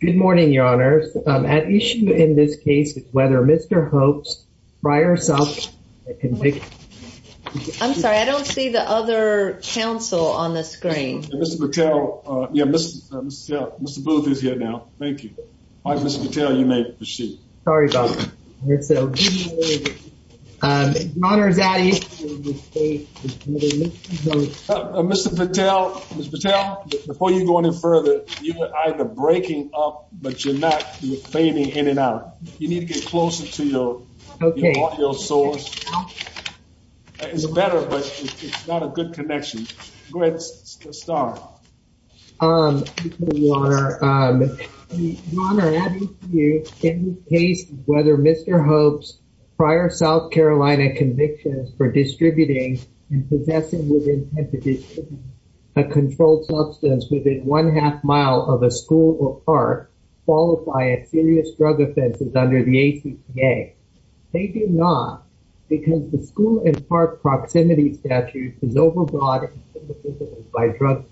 Good morning, your honors at issue in this case is whether Mr. Hope's prior self I'm sorry. I don't see the other Council on the screen. Mr. Patel. Yeah, Mr. Booth is here now. Thank you All right, Mr. Patel, you may proceed. Sorry about that. Mr. Patel, Mr. Patel Before you go any further you were either breaking up, but you're not you're fading in and out. You need to get closer to your Okay, your source It's better, but it's not a good connection Whether mr. Hopes prior, South Carolina convictions for distributing and possessing within a Controlled substance within one half mile of a school or part Qualified serious drug offenses under the ACA They do not because the school and park proximity statute is overbought by drugs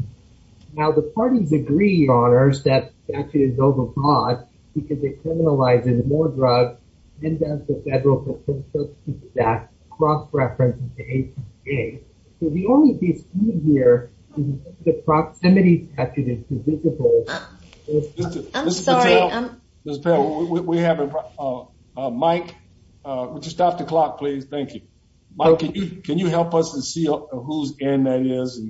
Now the parties agree honors that actually is overbought because it criminalizes more drugs and does the federal That cross-reference The only piece here the proximity We have a Mike Just off the clock, please. Thank you Can you help us and see who's in that is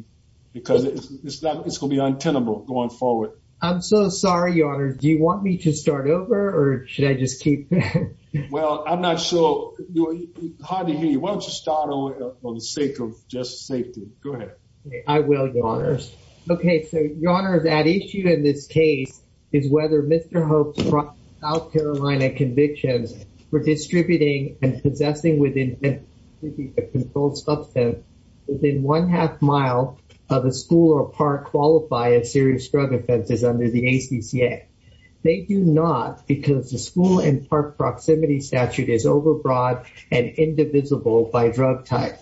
because it's not it's gonna be untenable going forward I'm so sorry. Your honor. Do you want me to start over or should I just keep? Well, I'm not sure How do you want to start over on the sake of just safety? Go ahead. I will your honors Okay, so your honor that issue in this case is whether mr. Hopes brought out Carolina convictions We're distributing and possessing within Controlled substance within one half mile of a school or park qualify a serious drug offenses under the ACCA They do not because the school and park proximity statute is overbought and Indivisible by drug type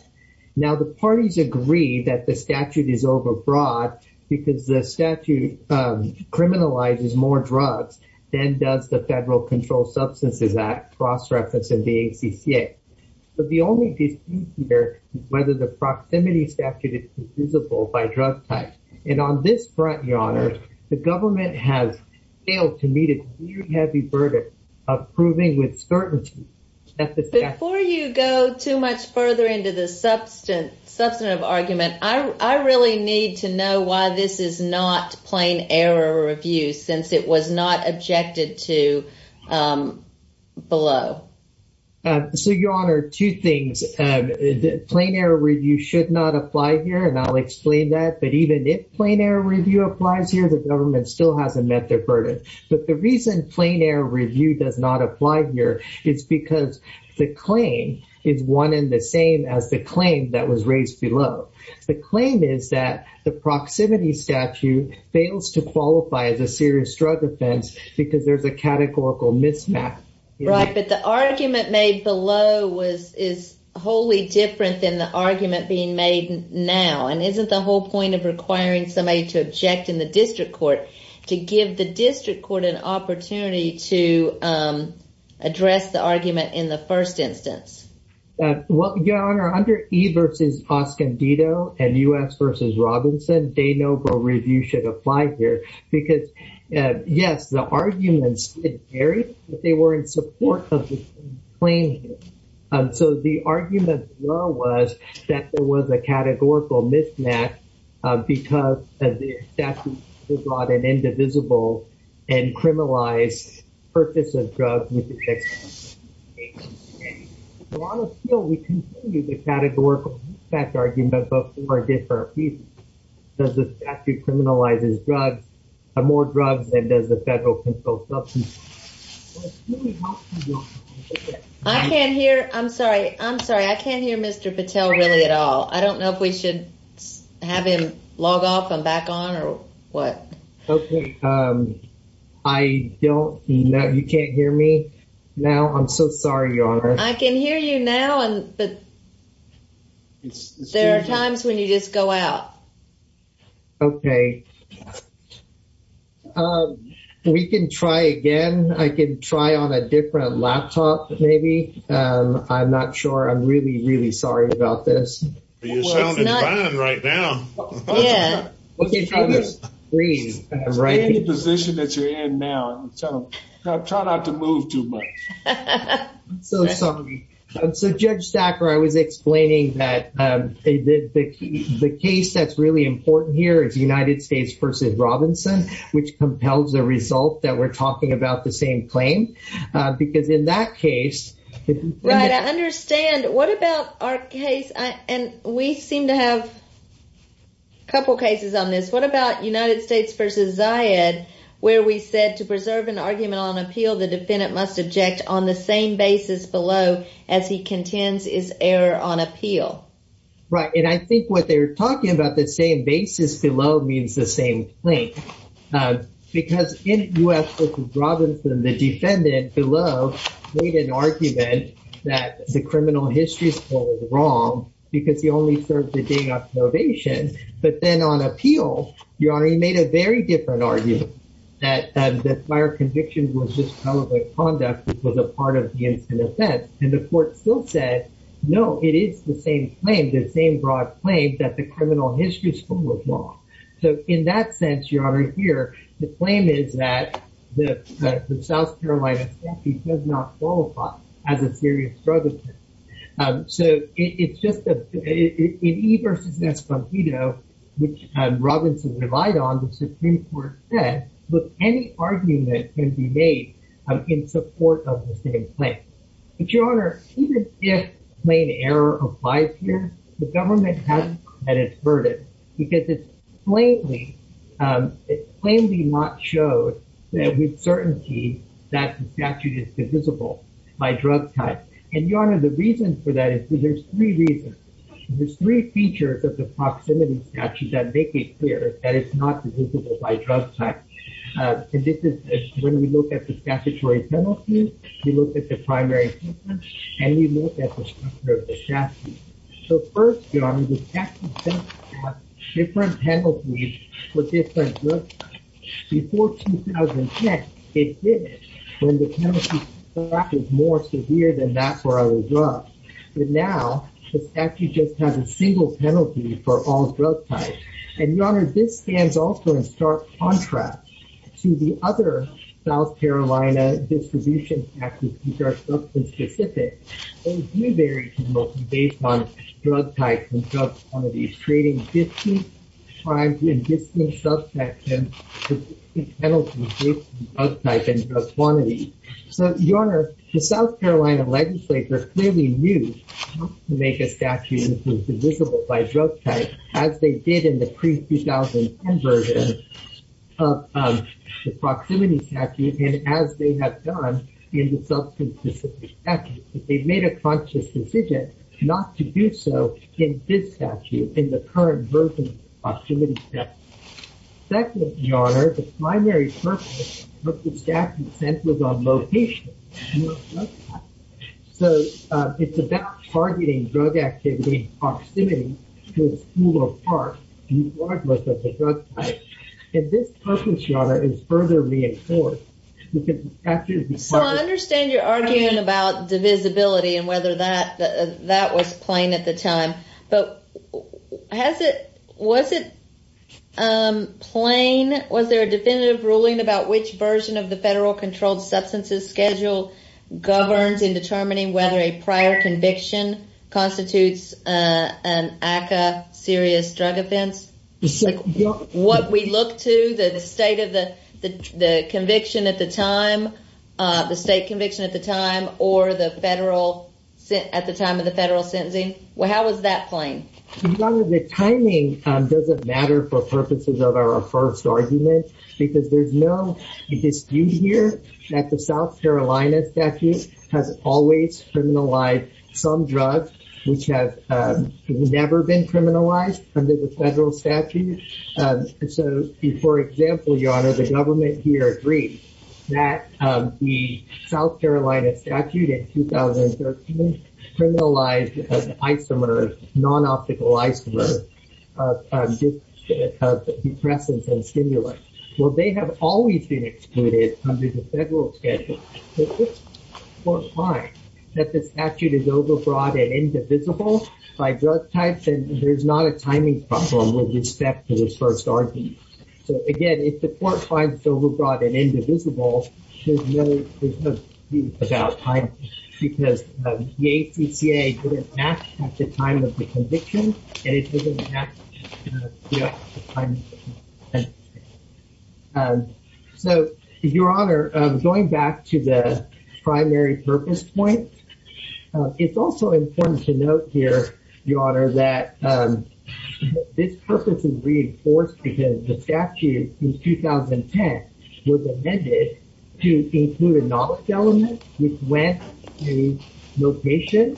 now the parties agree that the statute is overbought because the statute Criminalizes more drugs then does the Federal Control Substances Act cross-reference in the ACCA, but the only Whether the proximity statute is visible by drug type and on this front your honor The government has failed to meet it. You have a verdict of proving with certainty Before you go too much further into the substance substantive argument I really need to know why this is not plain error of you since it was not objected to Below So your honor two things Plain error review should not apply here and I'll explain that but even if plain error review applies here The government still hasn't met their burden But the reason plain error review does not apply here is because the claim is one in the same as the claim That was raised below the claim is that the Proximity statute fails to qualify as a serious drug offense because there's a categorical mismatch But the argument made below was is wholly different than the argument being made now and isn't the whole point of requiring somebody to object in the district court to give the district court an opportunity to Address the argument in the first instance What your honor under e versus Oscar Dito and u.s. Versus Robinson day Review should apply here because Yes, the arguments in theory, but they were in support of the claim So the argument was that there was a categorical mismatch Because of the statute is not an indivisible and criminalized purpose of drugs I Can't hear I'm sorry. I'm sorry. I can't hear. Mr. Patel really at all. I don't know if we should Have him log off and back on or what? I Don't know you can't hear me now. I'm so sorry. Your honor. I can hear you now and but There are times when you just go out Okay We can try again I can try on a different laptop maybe I'm not sure. I'm really really sorry about this Right now Right position that you're in now, so try not to move too much So judge stacker. I was explaining that The case that's really important here is the United States versus Robinson Which compels the result that we're talking about the same claim? because in that case Right, I understand what about our case and we seem to have a Couple cases on this. What about United States versus I had where we said to preserve an argument on appeal The defendant must object on the same basis below as he contends is error on appeal Right, and I think what they're talking about the same basis below means the same link Because in u.s. This is Robinson the defendant below made an argument that the criminal history school is wrong Because he only served the day of probation But then on appeal your honor He made a very different argument that the fire conviction was just probably conduct It was a part of the incident and the court still said no It is the same claim the same broad claim that the criminal history school was wrong So in that sense your honor here, the claim is that the the South Carolina He does not qualify as a serious brother so it's just a e-versus-s from you know, which Robinson relied on the Supreme Court said look any argument can be made in support of the same claim But your honor even if plain error applies here Government has an inverted because it's plainly It's plainly not showed that with certainty that statute is divisible By drug type and your honor the reason for that is there's three reasons There's three features of the proximity statute that make it clear that it's not divisible by drug type And this is when we look at the statutory penalties. We look at the primary And you look at the So first Different penalties for different before 2010 it did when the Back is more severe than that for other drugs But now it's actually just has a single penalty for all drug types and your honor this stands also in stark contrast to the other South Carolina Distribution Specific Based on drug types and drug quantities trading 50 times in this new subsection Type in quantity, so your honor the South Carolina legislature clearly news Make a statute is divisible by drug type as they did in the pre-2000 version Of the proximity statute and as they have done in the substance This is actually they've made a conscious decision not to do so in this statute in the current version opportunity That would be honored the primary purpose of the statute sent was on location So it's about targeting drug activity proximity to a school or park Like most of the drug type and this purpose your honor is further reinforced Understand you're arguing about divisibility and whether that that was plain at the time but Has it was it? Plain was there a definitive ruling about which version of the federal controlled substances schedule governs in determining whether a prior conviction constitutes an What we look to the state of the the conviction at the time The state conviction at the time or the federal sent at the time of the federal sentencing. Well, how was that plane? The timing doesn't matter for purposes of our first argument because there's no Dispute here that the South Carolina statute has always criminalized some drugs which have Never been criminalized under the federal statute so before example, your honor the government here agreed that the South Carolina statute in Criminalized isomers non-optical isomer Depressants and stimulants. Well, they have always been excluded under the federal schedule It's fine that the statute is overbroad and indivisible By drug types and there's not a timing problem with respect to this first argument So again, if the court finds overbroad and indivisible About time because the ACCA didn't match at the time of the conviction And So your honor going back to the primary purpose point it's also important to note here your honor that This purpose is reinforced because the statute in 2010 was amended to include a knowledge element which went to location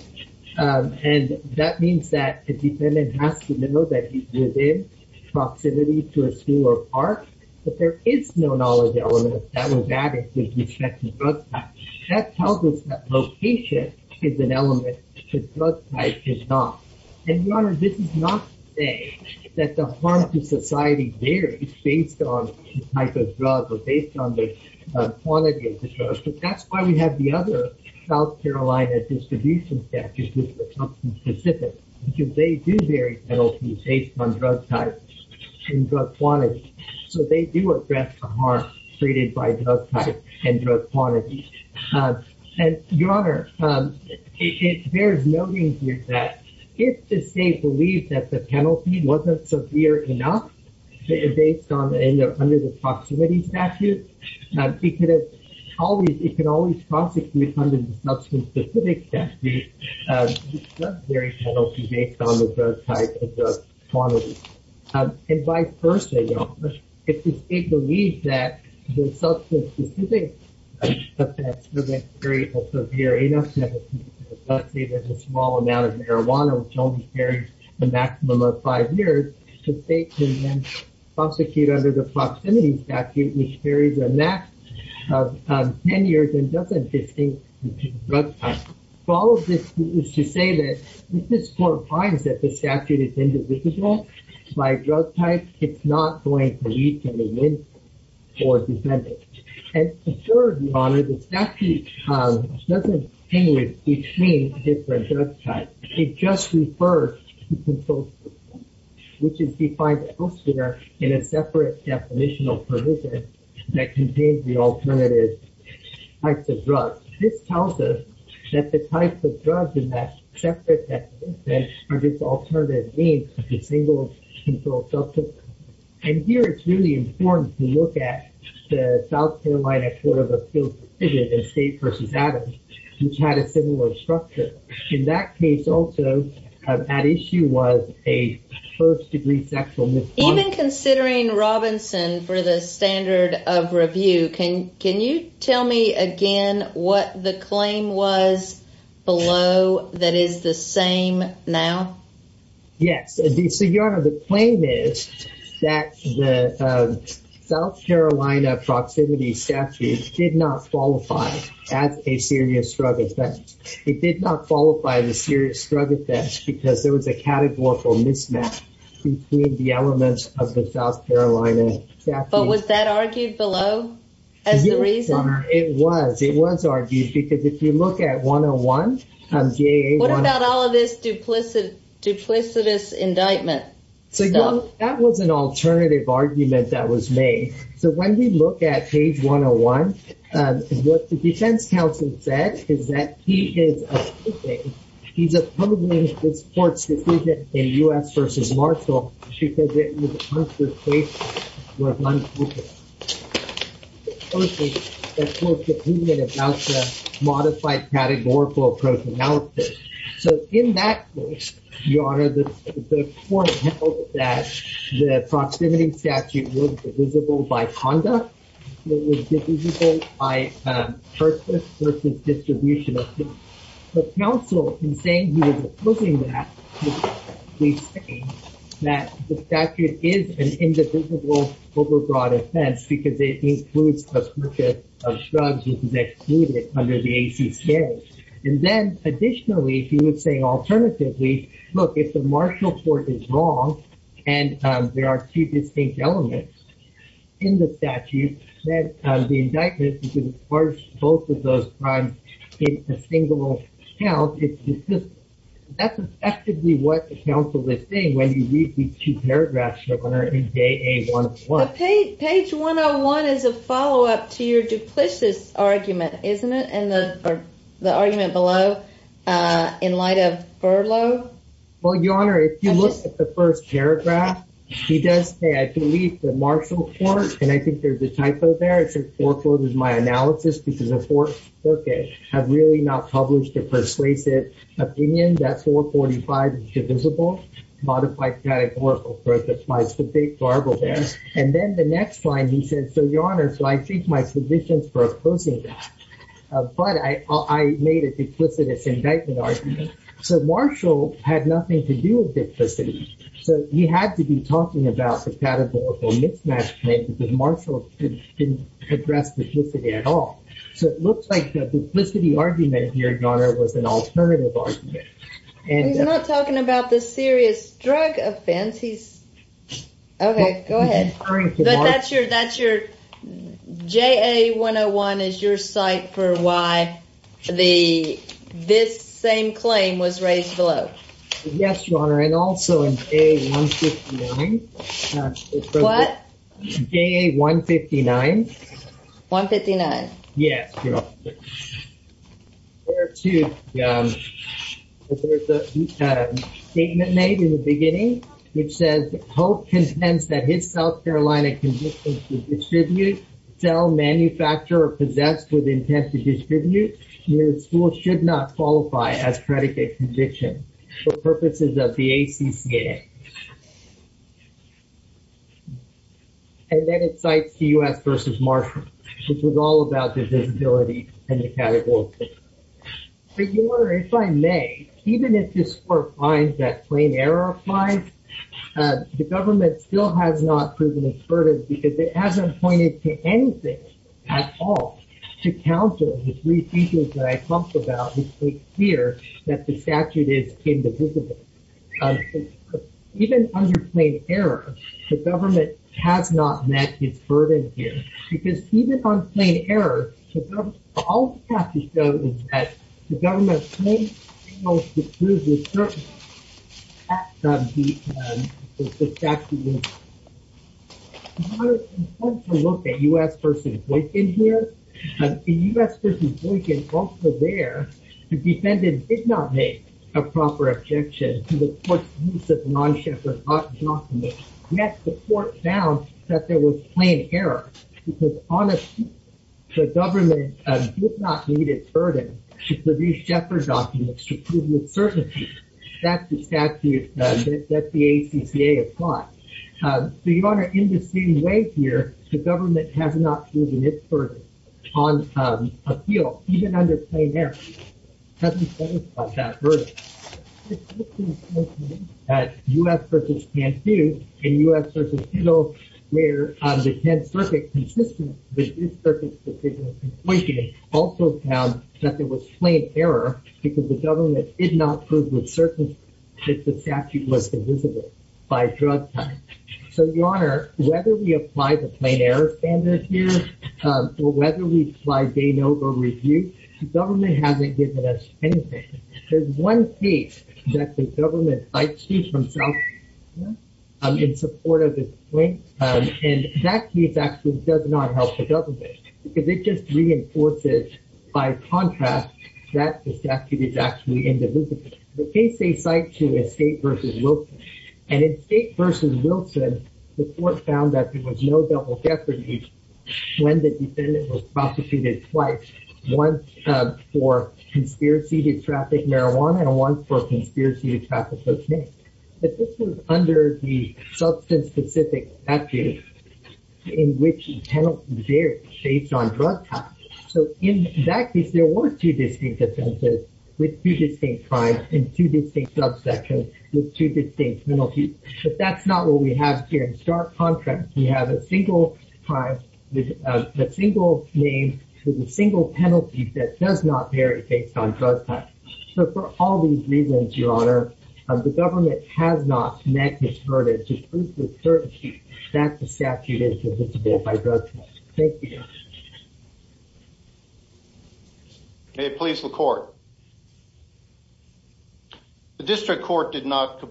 And that means that the defendant has to know that he's within Proximity to a school or park, but there is no knowledge element that was added with respect to drug types That tells us that location is an element The drug type is not and your honor this is not to say that the harm to society varies based on the type of drug or based on the Quantity of the drugs, but that's why we have the other South Carolina distribution Specific because they do vary penalties based on drug types and drug quantities So they do address the harm treated by drug types and drug quantities and your honor There's noting here that if the state believed that the penalty wasn't severe enough based on the Proximity statute It can always prosecute under the substance specific statute based on the drug type and drug quantity And vice versa, your honor. If the state believes that the substance specific affects the rate of severe enough Let's say there's a small amount of marijuana, which only carries a maximum of five years The state can then prosecute under the proximity statute, which carries a max of 10 years and doesn't distinguish between drug types All of this is to say that if this court finds that the statute is indivisible by drug type It's not going to lead to a win for defendants And third, your honor, the statute doesn't distinguish between different drug types, it just refers to consultation Which is defined elsewhere in a separate definitional provision that contains the alternative types of drugs. This tells us that the types of drugs in that separate definition are just alternative names for the single controlled substance And here, it's really important to look at the South Carolina Court of Appeals decision in State v. Adams Which had a similar structure. In that case also, at issue was a first-degree sexual misconduct Even considering Robinson for the standard of review, can you tell me again what the claim was below that is the same now? Yes, so your honor, the claim is that the South Carolina proximity statute did not qualify as a serious drug offense It did not qualify as a serious drug offense because there was a categorical mismatch between the elements of the South Carolina statute But was that argued below as the reason? It was, it was argued because if you look at 101 What about all of this duplicitous indictment? That was an alternative argument that was made. So when we look at page 101 What the defense counsel said is that he is He's approving this court's decision in U.S. v. Marshall because it was a counter case where one could oppose a court's opinion about the modified categorical approach analysis. So in that case, your honor, the Proximity statute was divisible by conduct by purpose versus distribution of evidence. The counsel, in saying he was opposing that He's saying that the statute is an indivisible overbroad offense because it includes the purpose of drugs which is excluded under the ACCA And then additionally, he was saying alternatively, look if the Marshall court is wrong And there are two distinct elements in the statute that the indictment You can charge both of those crimes in a single count It's divisible. That's effectively what the counsel is saying when you read these two paragraphs, your honor, in JA 101 Page 101 is a follow-up to your duplicitous argument, isn't it? And the argument below in light of furlough Well, your honor, if you look at the first paragraph He does say, I believe the Marshall court, and I think there's a typo there It says foreclosed is my analysis because the courts have really not published a persuasive opinion That's 445 is divisible Modified categorical approach applies to big garbled evidence. And then the next line he says, so your honor, so I take my position for opposing that But I made a duplicitous indictment argument So Marshall had nothing to do with duplicity So he had to be talking about the categorical mismatch made because Marshall didn't address duplicity at all So it looks like the duplicity argument here, your honor, was an alternative argument And he's not talking about the serious drug offense. He's Okay, go ahead. That's your that's your AA101 is your site for why the this same claim was raised below? Yes, your honor and also in AA159. 159. Yes Here too, there's a statement made in the beginning It says Hope contends that his South Carolina Distribute, sell, manufacture, or possess with intent to distribute His school should not qualify as predicate conviction for purposes of the ACCA And Then it cites the US versus Marshall, which was all about the visibility and the categorical But your honor, if I may, even if this court finds that plain error applies The government still has not proven its verdict because it hasn't pointed to anything at all To counter the three features that I talked about here that the statute is indivisible Even under plain error, the government has not met its verdict here because even on plain error All we have to show is that the government Look at US versus Boykin here And in US versus Boykin, also there, the defendant did not make a proper objection to the court's indivisible non-Scheffer document Yet the court found that there was plain error because on a field, the government did not meet its verdict to produce Scheffer documents to prove its certainty That's the statute that the ACCA applied So your honor, in the same way here, the government has not proven its verdict on a field, even under plain error It hasn't qualified that verdict US versus Cantu, and US versus Hill, where the 10th circuit, consistent with this circuit's decision Also found that there was plain error because the government did not prove with certainty that the statute was indivisible By drug time. So your honor, whether we apply the plain error standard here Or whether we apply Baino or Review, the government hasn't given us anything There's one case that the government cites here from South Carolina In support of this point, and that case actually does not help the government Because it just reinforces, by contrast, that the statute is actually indivisible The case they cite here is State versus Wilson, and in State versus Wilson, the court found that there was no double deference When the defendant was prosecuted twice, once For conspiracy to traffic marijuana, and once for conspiracy to traffic cocaine But this was under the substance-specific statute In which penalties vary based on drug time So in that case, there were two distinct offenses with two distinct crimes and two distinct subsections with two distinct penalties But that's not what we have here in stark contrast We have a single crime, a single name, with a single penalty that does not vary based on drug time So for all these reasons, your honor, the government has not met this verdict to prove with certainty that the statute is indivisible by drug time Thank you May it please the court The district court did not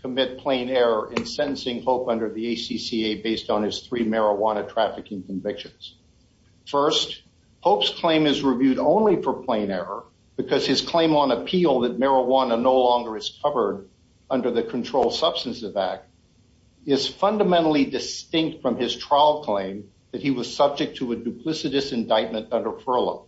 commit plain error in sentencing Hope under the ACCA based on his three marijuana trafficking convictions First, Hope's claim is reviewed only for plain error because his claim on appeal that marijuana no longer is covered under the Controlled Substances Act Is fundamentally distinct from his trial claim that he was subject to a duplicitous indictment under furlough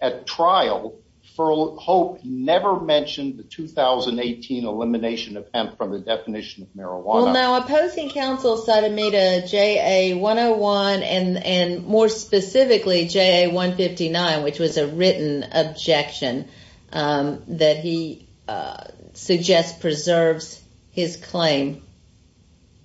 At trial, Hope never mentioned the 2018 elimination of hemp from the definition of marijuana Well now, opposing counsel cited me to JA101 and more specifically JA159, which was a written objection that he suggests preserves his claim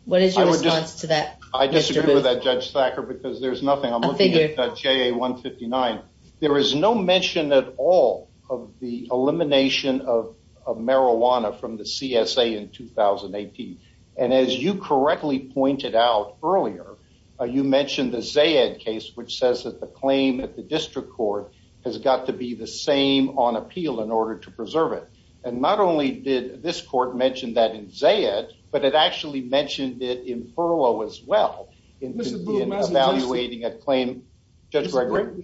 What is your response to that, Mr. Booth? I disagree with that, Judge Thacker, because there's nothing I'm looking at JA159 There is no mention at all of the elimination of marijuana from the CSA in 2018 And as you correctly pointed out earlier, you mentioned the Zayed case, which says that the claim at the district court has got to be the same on appeal in order to preserve it And not only did this court mention that in Zayed, but it actually mentioned it in furlough as well Evaluating a claim, Judge Gregory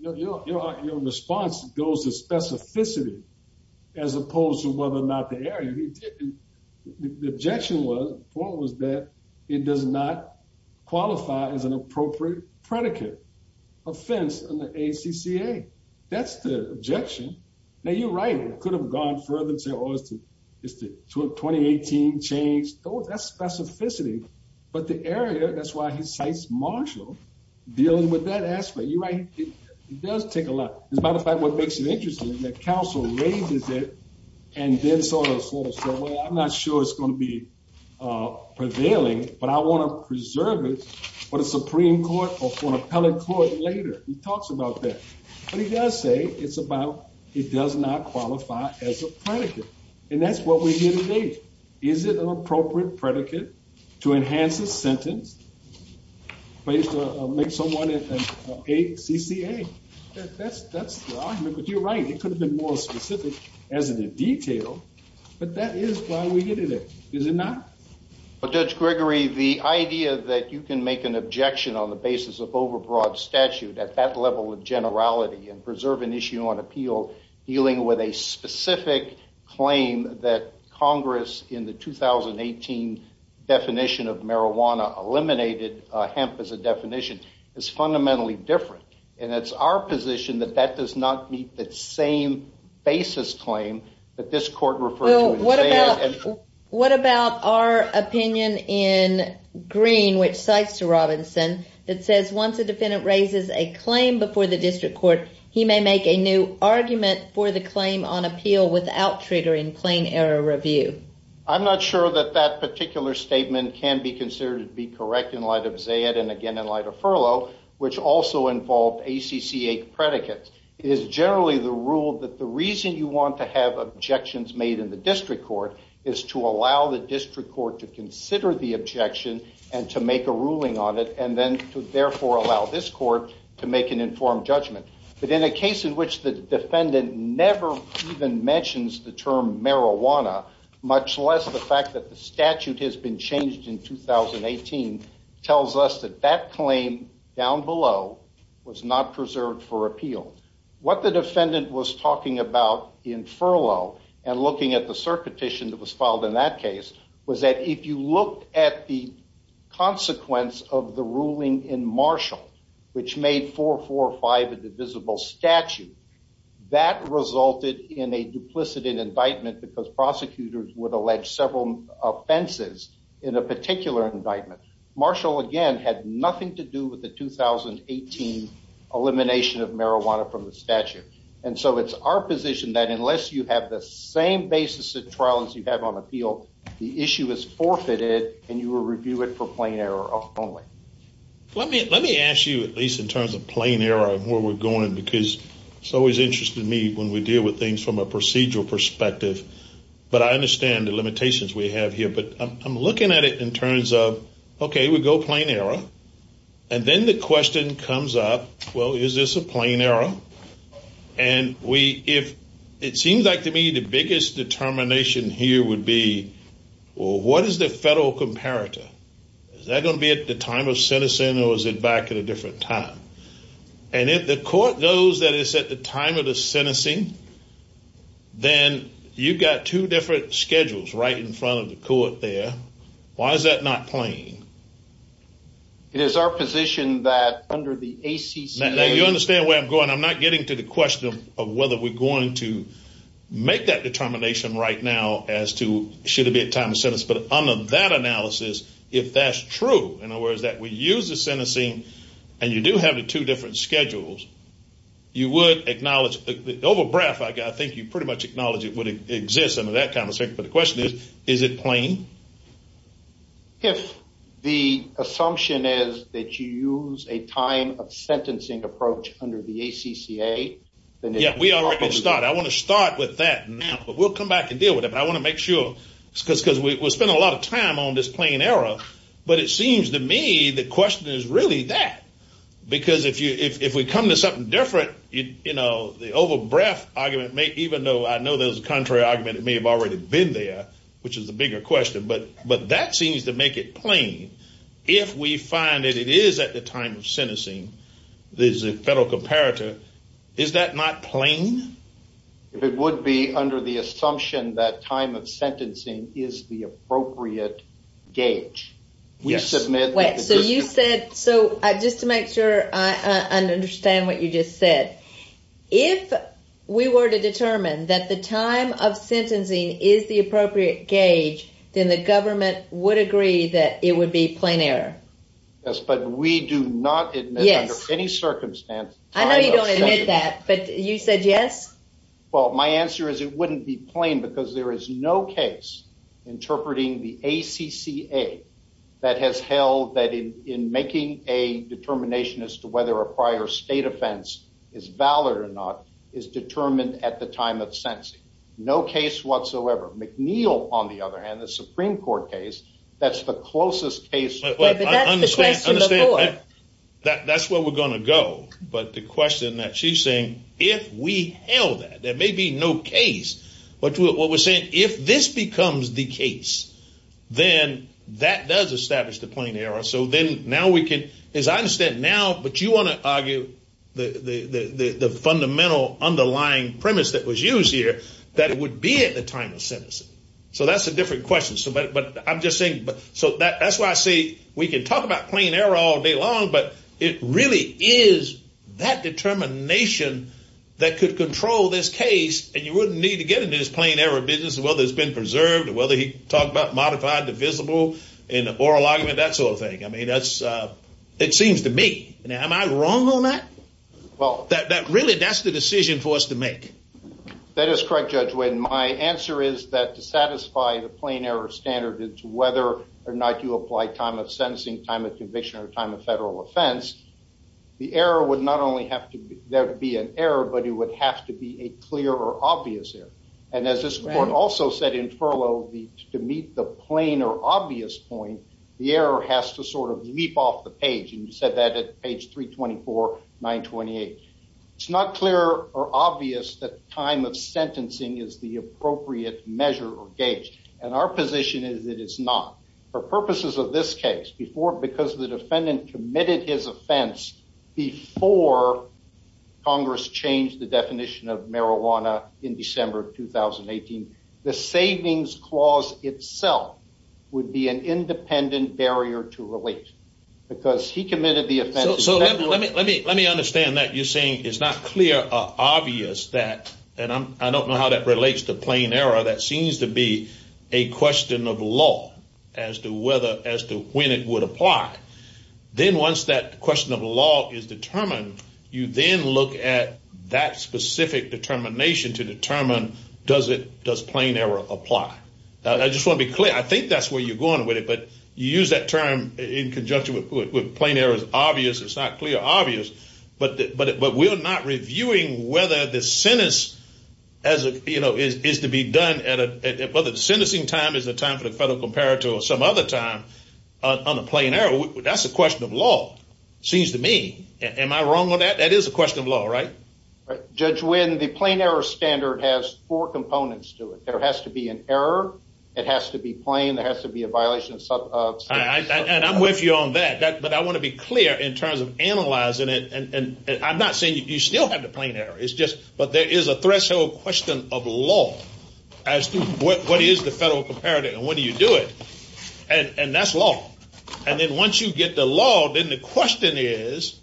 Your response goes to specificity, as opposed to whether or not the area The objection was, the point was that it does not qualify as an appropriate predicate offense under ACCA That's the objection Now you're right, it could have gone further and said, oh, it's the 2018 change That's specificity, but the area, that's why he cites Marshall, dealing with that aspect You're right, it does take a lot As a matter of fact, what makes it interesting is that counsel raises it and then sort of says, well, I'm not sure it's going to be prevailing But I want to preserve it for the Supreme Court or for an appellate court later He talks about that, but he does say it's about, it does not qualify as a predicate And that's what we hear today Is it an appropriate predicate to enhance a sentence? To make someone an ACCA That's the argument, but you're right, it could have been more specific as in the detail But that is why we're getting it, is it not? Well, Judge Gregory, the idea that you can make an objection on the basis of overbroad statute at that level of generality And preserve an issue on appeal dealing with a specific claim that Congress in the 2018 definition of marijuana eliminated hemp as a definition Is fundamentally different And it's our position that that does not meet that same basis claim that this court referred to What about our opinion in Green, which cites Robinson That says once a defendant raises a claim before the district court He may make a new argument for the claim on appeal without triggering claim error review I'm not sure that that particular statement can be considered to be correct in light of Zayad and again in light of Furlow Which also involved ACCA predicates It is generally the rule that the reason you want to have objections made in the district court Is to allow the district court to consider the objection and to make a ruling on it And then to therefore allow this court to make an informed judgment But in a case in which the defendant never even mentions the term marijuana Much less the fact that the statute has been changed in 2018 Tells us that that claim down below was not preserved for appeal What the defendant was talking about in Furlow And looking at the cert petition that was filed in that case Was that if you look at the consequence of the ruling in Marshall Which made 445 a divisible statute That resulted in a duplicit in indictment Because prosecutors would allege several offenses in a particular indictment Marshall again had nothing to do with the 2018 elimination of marijuana from the statute And so it's our position that unless you have the same basis of trial as you have on appeal The issue is forfeited and you will review it for plain error only Let me ask you at least in terms of plain error and where we're going Because it's always interesting to me when we deal with things from a procedural perspective But I understand the limitations we have here But I'm looking at it in terms of okay we go plain error And then the question comes up well is this a plain error And it seems like to me the biggest determination here would be What is the federal comparator? Is that going to be at the time of sentencing or is it back at a different time? And if the court knows that it's at the time of the sentencing Then you've got two different schedules right in front of the court there Why is that not plain? It is our position that under the ACC Now you understand where I'm going I'm not getting to the question of whether we're going to Make that determination right now as to should it be at time of sentence But under that analysis if that's true in other words that we use the sentencing And you do have the two different schedules You would acknowledge over breath I think you pretty much acknowledge it would exist under that kind of circumstance But the question is is it plain? If the assumption is that you use a time of sentencing approach under the ACCA Yeah we already started I want to start with that now but we'll come back and deal with it But I want to make sure because we're spending a lot of time on this plain error But it seems to me the question is really that Because if we come to something different you know the over breath argument Even though I know there's a contrary argument that may have already been there Which is the bigger question but that seems to make it plain If we find that it is at the time of sentencing There's a federal comparator is that not plain? If it would be under the assumption that time of sentencing is the appropriate Gauge we submit Wait so you said so just to make sure I understand what you just said If we were to determine that the time of sentencing is the appropriate gauge Then the government would agree that it would be plain error Yes but we do not admit under any circumstance I know you don't admit that but you said yes? Well my answer is it wouldn't be plain because there is no case Interpreting the ACCA that has held that in making a determination As to whether a prior state offense is valid or not is determined at the time of sentencing No case whatsoever McNeil on the other hand the Supreme Court case That's the closest case But that's the question before That's where we're going to go but the question that she's saying If we held that there may be no case But what we're saying if this becomes the case Then that does establish the plain error As I understand now but you want to argue The fundamental underlying premise that was used here That it would be at the time of sentencing So that's a different question So that's why I say we can talk about plain error all day long But it really is that determination That could control this case And you wouldn't need to get into this plain error business Whether it's been preserved or whether he talked about modified divisible In the oral argument that sort of thing I mean that's it seems to me Am I wrong on that? Well that really that's the decision for us to make That is correct Judge Wynn My answer is that to satisfy the plain error standard It's whether or not you apply time of sentencing Time of conviction or time of federal offense The error would not only have to be there to be an error But it would have to be a clear or obvious error And as this court also said in furlough To meet the plain or obvious point The error has to sort of leap off the page And you said that at page 324, 928 It's not clear or obvious that time of sentencing Is the appropriate measure or gauge And our position is that it's not For purposes of this case Because the defendant committed his offense Before Congress changed the definition of marijuana In December of 2018 The savings clause itself Would be an independent barrier to relate Because he committed the offense So let me understand that You're saying it's not clear or obvious that And I don't know how that relates to plain error That seems to be a question of law As to when it would apply Then once that question of law is determined You then look at that specific determination To determine does plain error apply I just want to be clear I think that's where you're going with it But you use that term in conjunction With plain error as obvious It's not clear or obvious But we're not reviewing whether the sentence Is to be done at a Whether the sentencing time is the time For the federal comparator or some other time On a plain error That's a question of law Seems to me Am I wrong on that? That is a question of law, right? Judge Wynn, the plain error standard Has four components to it There has to be an error It has to be plain There has to be a violation of And I'm with you on that But I want to be clear In terms of analyzing it And I'm not saying You still have the plain error It's just But there is a threshold question of law As to what is the federal comparator And when do you do it? And that's law And then once you get the law Then the question is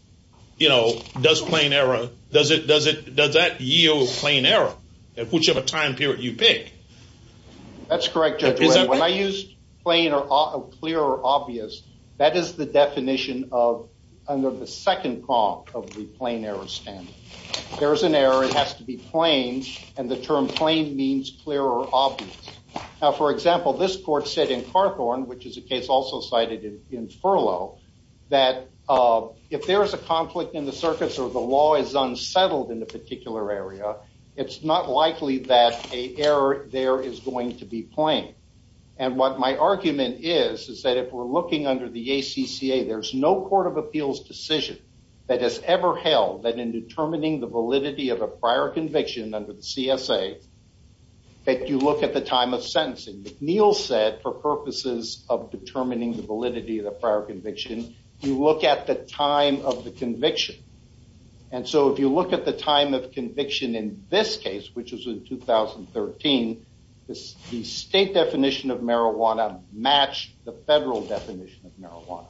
You know, does plain error Does that yield plain error? At whichever time period you pick That's correct, Judge Wynn When I use plain or clear or obvious That is the definition of Under the second prong Of the plain error standard There is an error It has to be plain And the term plain means clear or obvious Now, for example This court said in Carthorne Which is a case also cited in Furlough That if there is a conflict in the circuits Or the law is unsettled in a particular area It's not likely that an error there Is going to be plain And what my argument is Is that if we're looking under the ACCA There's no court of appeals decision That has ever held That in determining the validity Of a prior conviction under the CSA That you look at the time of sentencing McNeil said for purposes Of determining the validity Of a prior conviction You look at the time of the conviction And so if you look at the time of conviction In this case Which was in 2013 The state definition of marijuana Matched the federal definition of marijuana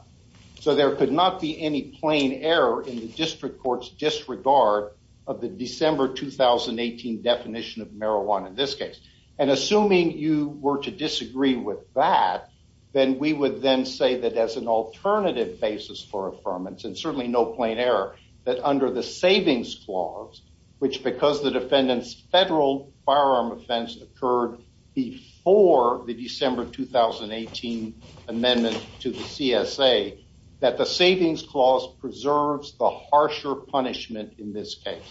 So there could not be any plain error In the district court's disregard Of the December 2018 definition of marijuana In this case And assuming you were to disagree with that Then we would then say That as an alternative basis for affirmance And certainly no plain error That under the savings clause Which because the defendant's federal firearm offense Occurred before the December 2018 amendment To the CSA That the savings clause preserves The harsher punishment in this case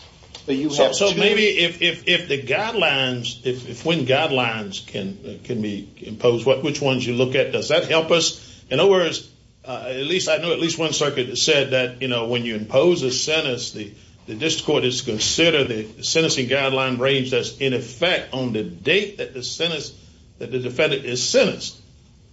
So you have to So maybe if the guidelines If when guidelines can be imposed Which ones you look at Does that help us? In other words At least I know At least one circuit said That you know When you impose a sentence The district court is to consider The sentencing guideline range That's in effect on the date That the defendant is sentenced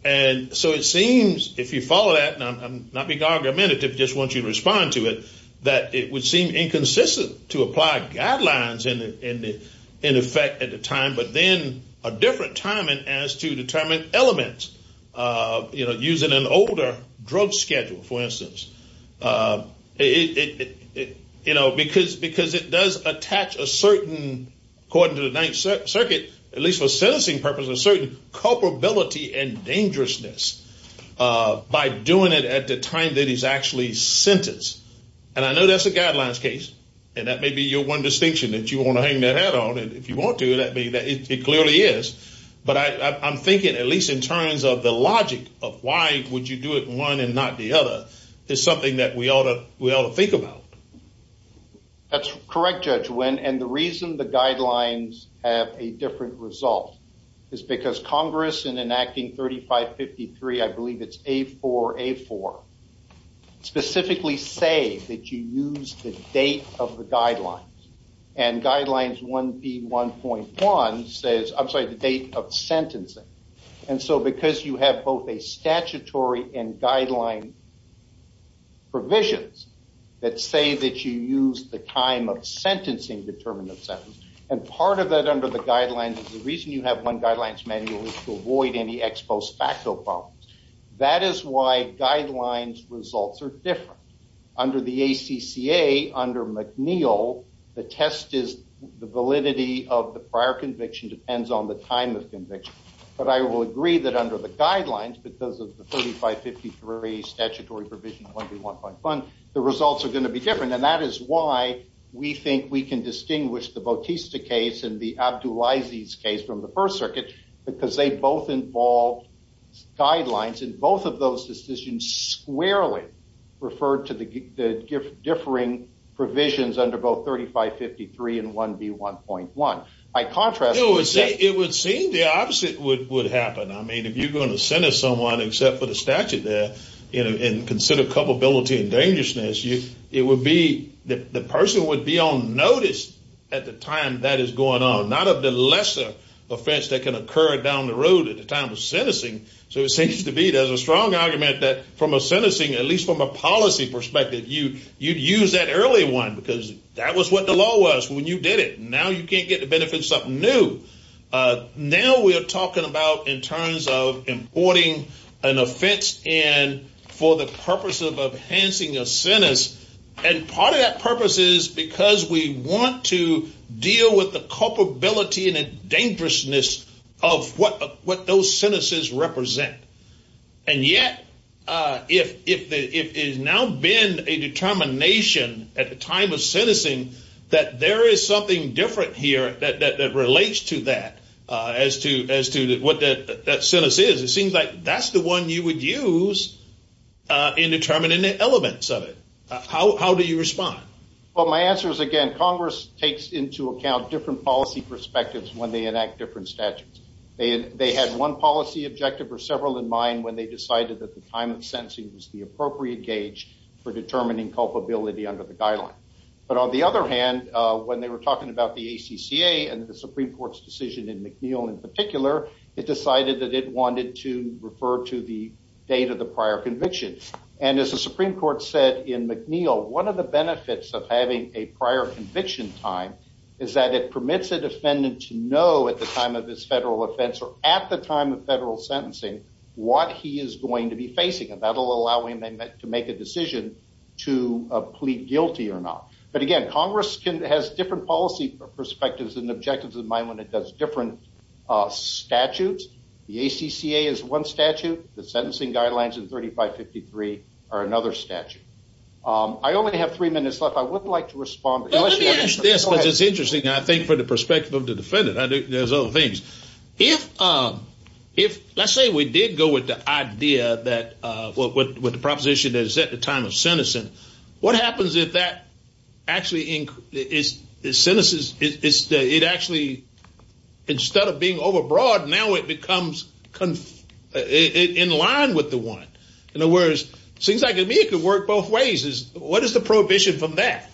And so it seems If you follow that And I'm not being argumentative Just want you to respond to it That it would seem inconsistent To apply guidelines In effect at the time But then a different timing As to determine elements You know Using an older drug schedule For instance You know Because it does attach a certain According to the Ninth Circuit At least for sentencing purposes A certain culpability and dangerousness By doing it at the time That he's actually sentenced And I know that's a guidelines case And that may be your one distinction That you want to hang that hat on And if you want to It clearly is But I'm thinking At least in terms of the logic Of why would you do it One and not the other Is something that we ought to Think about That's correct Judge Wynn And the reason the guidelines Have a different result Is because Congress In enacting 3553 I believe it's A4A4 Specifically say That you use the date Of the guidelines And guidelines 1B1.1 Says I'm sorry The date of sentencing And so because you have Both a statutory And guideline Provisions That say that you use The time of sentencing Determinant sentence And part of that Under the guidelines Is the reason you have One guidelines manual Is to avoid any Ex post facto problems That is why guidelines Results are different Under the ACCA Under McNeil The test is The validity of the prior conviction Depends on the time Of conviction But I will agree That under the guidelines Because of the 3553 Statutory provision 1B1.1 The results are going To be different And that is why We think we can Distinguish the Bautista case And the Abdulaziz case From the first circuit Because they both involve Guidelines And both of those decisions Squarely Refer to the Differing provisions Under both 3553 And 1B1.1 By contrast It would seem The opposite would happen I mean if you are going To sentence someone Except for the statute there And consider culpability And dangerousness It would be The person would be on notice At the time that is going on Not of the lesser offense That can occur down the road At the time of sentencing So it seems to be There is a strong argument That from a sentencing At least from a policy perspective You would use that early one Because that was what the law was When you did it Now you can't get the benefit Of something new Now we are talking about In terms of Importing an offense And for the purpose Of enhancing a sentence And part of that purpose Is because we want to Deal with the culpability And dangerousness Of what those sentences represent And yet If there has now been A determination At the time of sentencing That there is something Different here That relates to that As to what that sentence is It seems like That's the one you would use In determining the elements of it How do you respond? Well my answer is again Congress takes into account Different policy perspectives When they enact different statutes They had one policy objective Or several in mind When they decided That the time of sentencing Was the appropriate gauge For determining culpability Under the guideline But on the other hand When they were talking About the ACCA And the Supreme Court's decision In McNeil in particular It decided that it wanted to Refer to the date Of the prior conviction And as the Supreme Court said In McNeil One of the benefits Of having a prior conviction time Is that it permits a defendant To know at the time Of his federal offense Or at the time Of federal sentencing What he is going to be facing And that will allow him To make a decision To plead guilty or not But again Congress has different Policy perspectives And objectives in mind When it does different statutes The ACCA is one statute The sentencing guidelines In 3553 are another statute I only have three minutes left I would like to respond But let me ask this Because it's interesting I think for the perspective Of the defendant There's other things If let's say we did go with The idea that With the proposition That is at the time Of sentencing What happens if that Actually It actually Instead of being over broad Now it becomes In line with the one In other words Seems like to me It could work both ways What is the prohibition From that?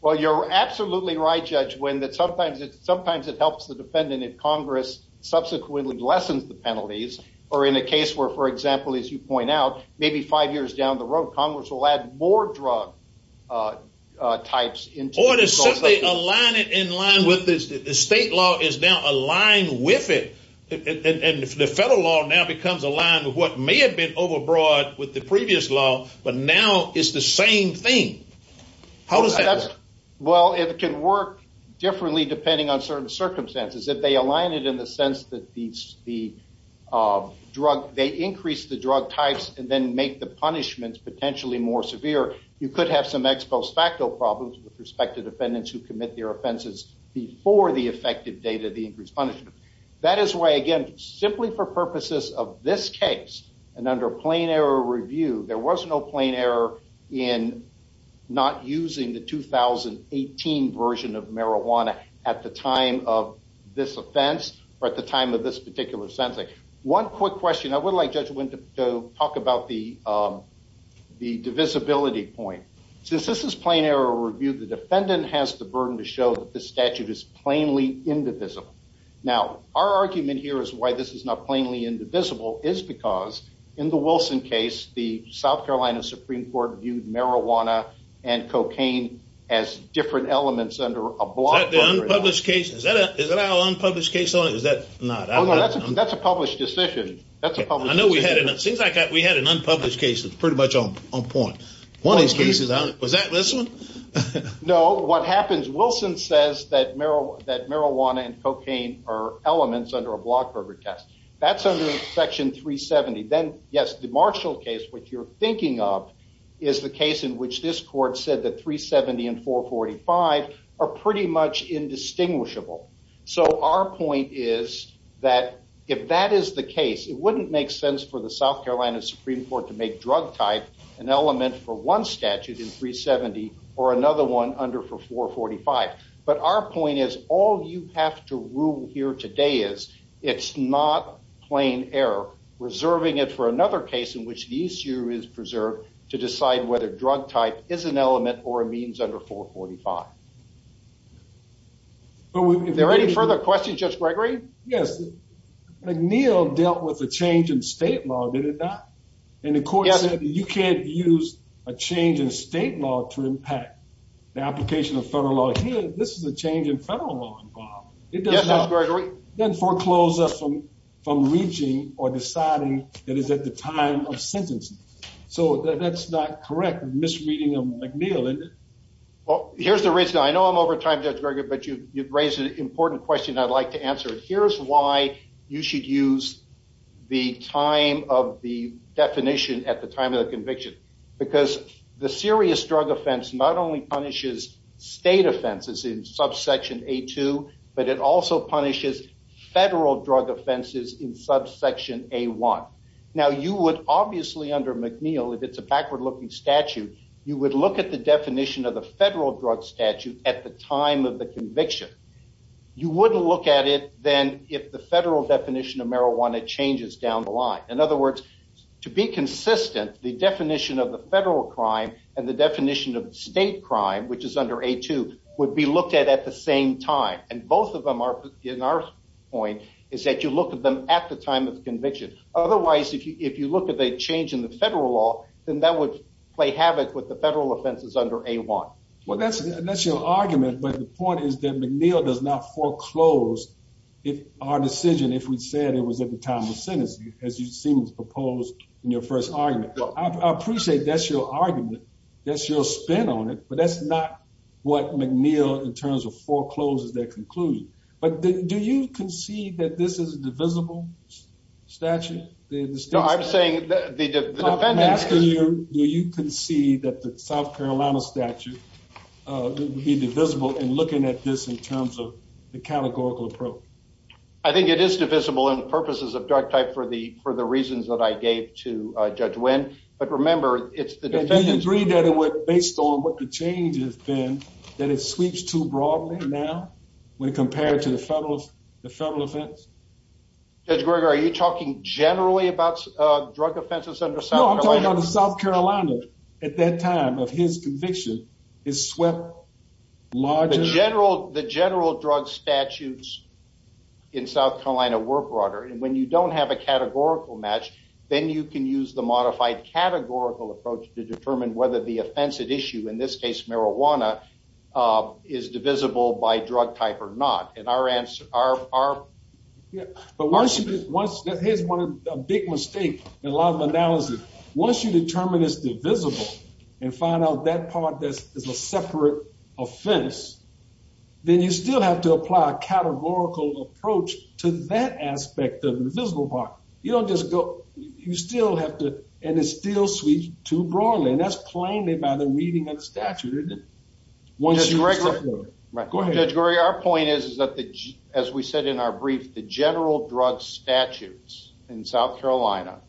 Well you're absolutely right Judge Wynn Sometimes it helps The defendant If Congress subsequently Lessens the penalties Or in a case where For example as you point out Maybe five years down the road Congress will add more drug types Or to simply align it In line with The state law Is now aligned with it And the federal law Now becomes aligned With what may have been Over broad with the previous law But now it's the same thing How does that work? Well it can work differently Depending on certain circumstances If they align it in the sense That the drug They increase the drug types And then make the punishments Potentially more severe You could have some Ex post facto problems With respect to defendants Who commit their offenses Before the effective date Of the increased punishment That is why again Simply for purposes of this case And under plain error review There was no plain error In not using the 2018 version Of marijuana At the time of this offense Or at the time of this Particular sentencing One quick question I would like Judge Wynn To talk about The divisibility point Since this is plain error review The defendant has the burden To show that the statute Is plainly indivisible Now our argument here Is why this is not Plainly indivisible Is because in the Wilson case The South Carolina Supreme Court Viewed marijuana and cocaine As different elements Under a block Is that the unpublished case Is that our unpublished case Is that not That's a published decision That's a published decision I know we had It seems like we had An unpublished case That's pretty much on point One of these cases Was that this one No what happens Wilson says That marijuana and cocaine Are elements under a block Per the test That's under section 370 Then yes the Marshall case Which you're thinking of Is the case in which This court said That 370 and 445 Are pretty much indistinguishable So our point is That if that is the case It wouldn't make sense For the South Carolina Supreme Court To make drug type An element for one statute In 370 Or another one Under for 445 But our point is All you have to rule here today Is it's not plain error Reserving it for another case In which the issue is preserved To decide whether drug type Is an element Or a means under 445 Are there any further questions Judge Gregory Yes McNeil dealt with A change in state law Did it not And the court said You can't use A change in state law To impact The application of federal law Here This is a change in federal law Involved Yes Judge Gregory It doesn't foreclose us From reaching Or deciding That it's at the time Of sentencing So that's not correct Misreading of McNeil Well here's the reason I know I'm over time Judge Gregory But you've raised An important question I'd like to answer Here's why You should use The time of the Definition At the time of the conviction Because The serious drug offense Not only punishes State offenses In subsection A2 But it also punishes Federal drug offenses In subsection A1 Now you would Obviously under McNeil If it's a backward looking statute You would look at the definition Of the federal drug statute At the time of the conviction You wouldn't look at it Then if the federal definition Of marijuana changes Down the line In other words To be consistent The definition Of the federal crime And the definition Of the state crime Which is under A2 Would be looked at At the same time And both of them In our point Is that you look at them At the time of the conviction Otherwise If you look at the change In the federal law Then that would Play havoc With the federal offenses Under A1 Well that's your argument But the point is Is that McNeil Does not foreclose If our decision If we said It was at the time of sentencing As you seem to propose In your first argument I appreciate That's your argument That's your spin on it But that's not What McNeil In terms of forecloses Their conclusion But do you concede That this is a divisible statute I'm asking you Do you concede That the South Carolina statute Would be divisible In looking at this State statute And the state crime And the state crime And the state crime In terms of The categorical approach I think it is divisible In purposes of drug type For the reasons That I gave To Judge Wynn But remember It's the Do you agree That it would Based on what the change Has been That it sweeps too broadly Now When compared to The federal offense Judge Greger Are you talking Generally about Drug offenses Under South Carolina No I'm talking about The South Carolina At that time Of his conviction Is swept Larger The general The general Drug statutes In South Carolina Were broader And when you don't Have a categorical match Then you can use The modified Categorical approach To determine Whether the offensive issue In this case Marijuana Is divisible By drug type Or not And our answer Our Yeah But once Here's one Big mistake In a lot of analysis Once you determine It's divisible And find out That part Is a separate Offense Then you still Have to apply A categorical Approach To that aspect Of the divisible part You don't just go You still have to And it still Sweeps too broadly And that's plainly By the reading Of the statute Isn't it Once you Go ahead Judge Greger Our point is Is that As we said in our brief The general Drug statutes In South Carolina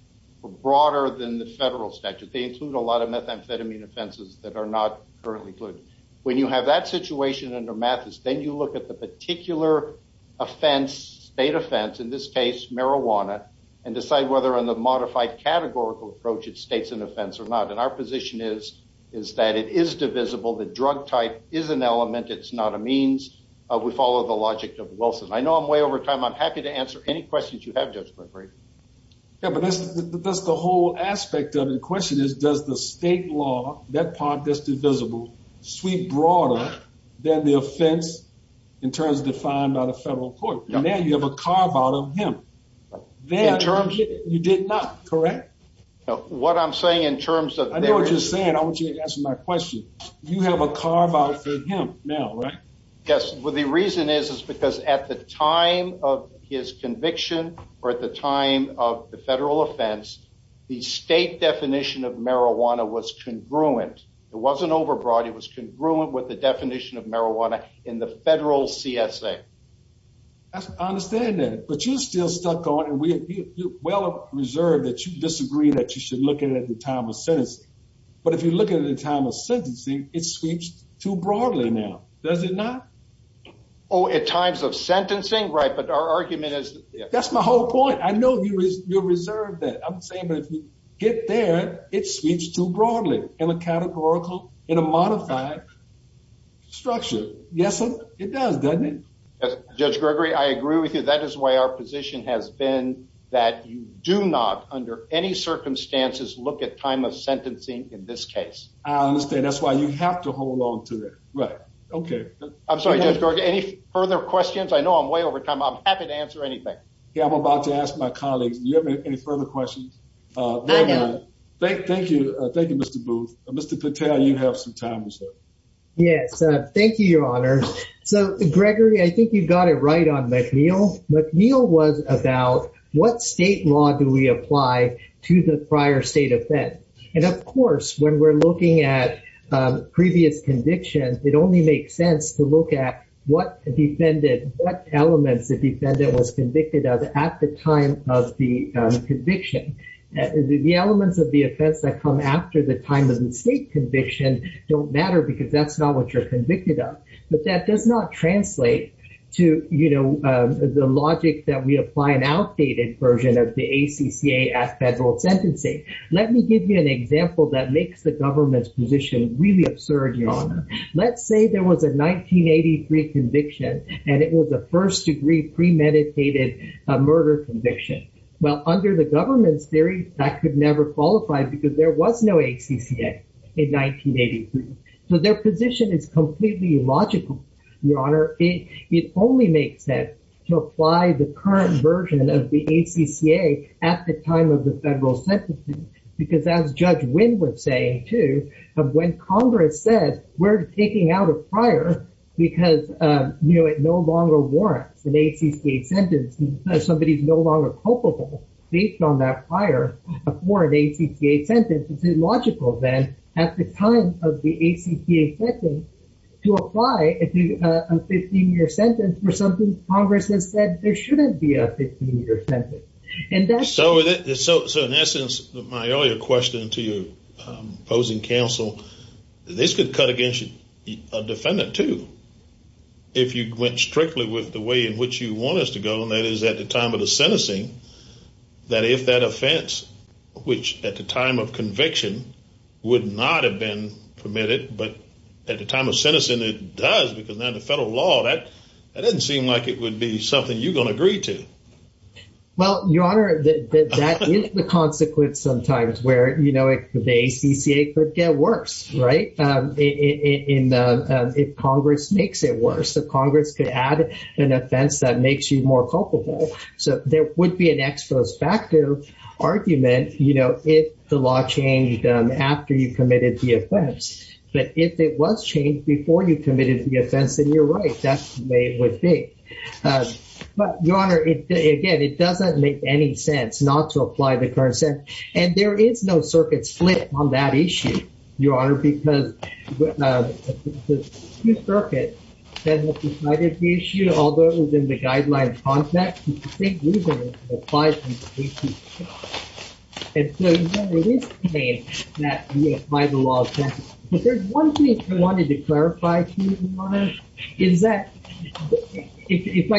Were broader Than the federal statute They include a lot Of methamphetamine offenses That are not Currently included When you have that Situation under Mathis Then you look at The particular Offense State offense In this case Marijuana And decide whether On the modified Categorical approach It states an offense Or not And our position is Is that it is divisible The drug type Is an element It's not a means We follow the logic Of Wilson I know I'm way over time I'm happy to answer Any questions you have Judge McRae Yeah but that's The whole aspect Of the question is Does the state law That part That's divisible Sweep broader Than the offense In terms of defined By the federal court And then you have A carve out of him In terms You did not Correct What I'm saying In terms of I know what you're saying I want you to answer My question You have a carve out For him Now right Yes Well the reason is Is because at the time Of his conviction Or at the time Of the federal offense The state definition Of marijuana Was congruent It wasn't overbroad It was congruent With the definition Of marijuana In the federal CSA I understand that But you're still Stuck on And we Are well Reserved That you disagree That you should Look at it At the time of sentencing But if you look At it at the time Of sentencing It sweeps Too broadly now Does it not Oh at times Of sentencing Right but our argument Is that's my whole point I know you Reserved that I'm saying But if you Get there It sweeps Too broadly In a categorical In a modified Structure Yes sir It does doesn't it Yes Judge Gregory I agree with you That is why our position Has been That you do not Under any circumstances Look at time of sentencing In this case I understand That's why you have To hold on to it Right Okay I'm sorry Judge Gregory Any further questions I know I'm way over time I'm happy to answer anything Yeah I'm about to ask My colleagues Any further questions I know Thank you Thank you Mr. Booth Mr. Patel You have some time Yes thank you Your Honor So Gregory I think you've got it Right on McNeil McNeil was about What state law Do we apply To the prior state Offend When we're looking at Previous convictions It only makes sense To look at What defendant What elements The defendant Was convicted of At the time Of the Sentencing Okay The Conviction The elements Of the offense That come after The time of the State conviction Don't matter Because that's not What you're convicted of But that does not Translate to You know The logic that we Apply an outdated Version of the ACCA At federal Sentencing Let me give you An example That makes the Government's position Really absurd Your Honor Let's say there Was a 1983 Conviction And it was a First degree Premeditated Murder Conviction Well under the Government's theory That could never Qualify because there Was no ACCA In 1983 So their position Is completely Illogical Your Honor It only makes sense To apply the Current version Of the ACCA At the time Of the Federal Sentencing Because as Judge Winn Was saying Too When Congress Has said We're taking Out a prior Because You know It no longer Warrants an ACCA Sentence Because somebody Is no longer Culpable Based on that Prior For an ACCA Sentence It's illogical Then at the Time of the ACCA Sentence To apply A 15 year Sentence For something Congress Has said There shouldn't Be a 15 Year Sentence So in Essence My earlier Question to Your opposing Counsel This could Cut against A defendant Too If you went Strictly with the Way in which You want us To go And that is At the time Of the Sentencing That if That offense Which at The time Of conviction Would not Have been Permitted But at The time of Sentencing It does Because then The federal Law That doesn't Seem like it Would be Something you Will agree To Well Your Honor That is The consequence Sometimes Where the ACCA Could get Worse Right If Congress Makes it Worse So Congress Could add An offense That makes You more Culpable So there Would be An Exposed Factor Argument You know If the Law Changed After You Committed The Offense But if It was Changed Before You Committed The Offense Then You Would Be More Culpable So I Wanted To Clarify One Thing I Wanted To Clarify To You Your Honor Is That If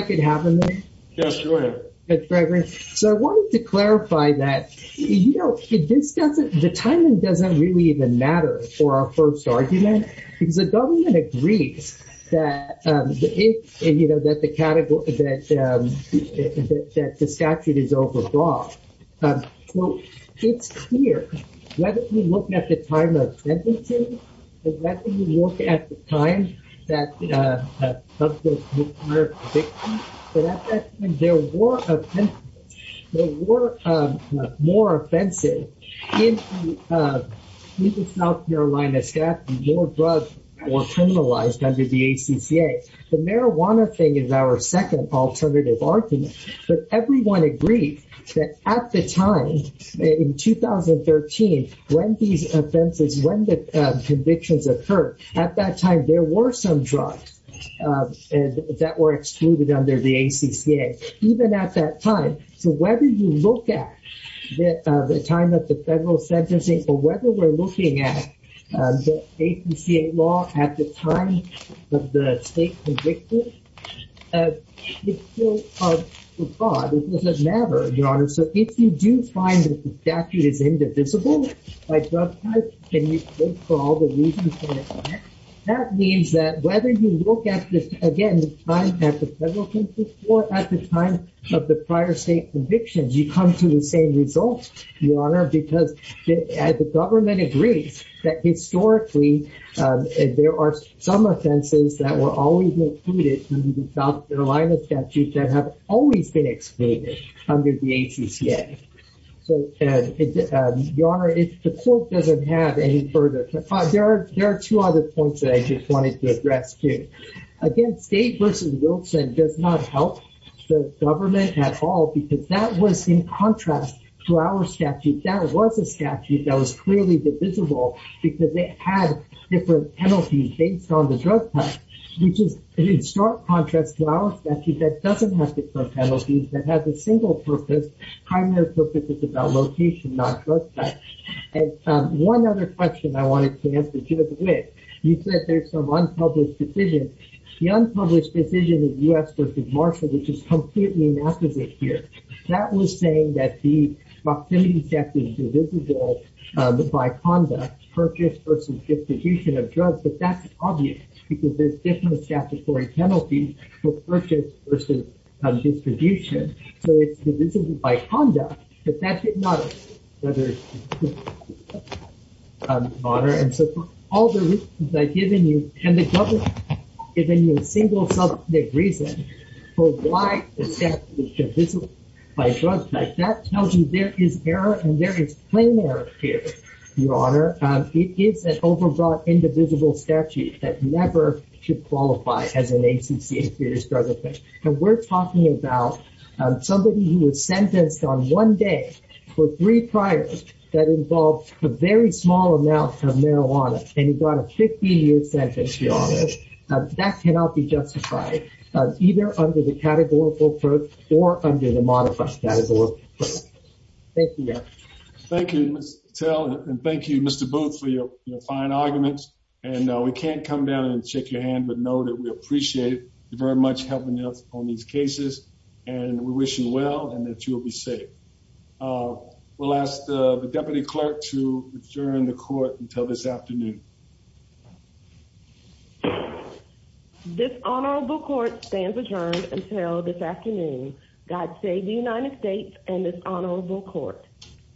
I Could Have A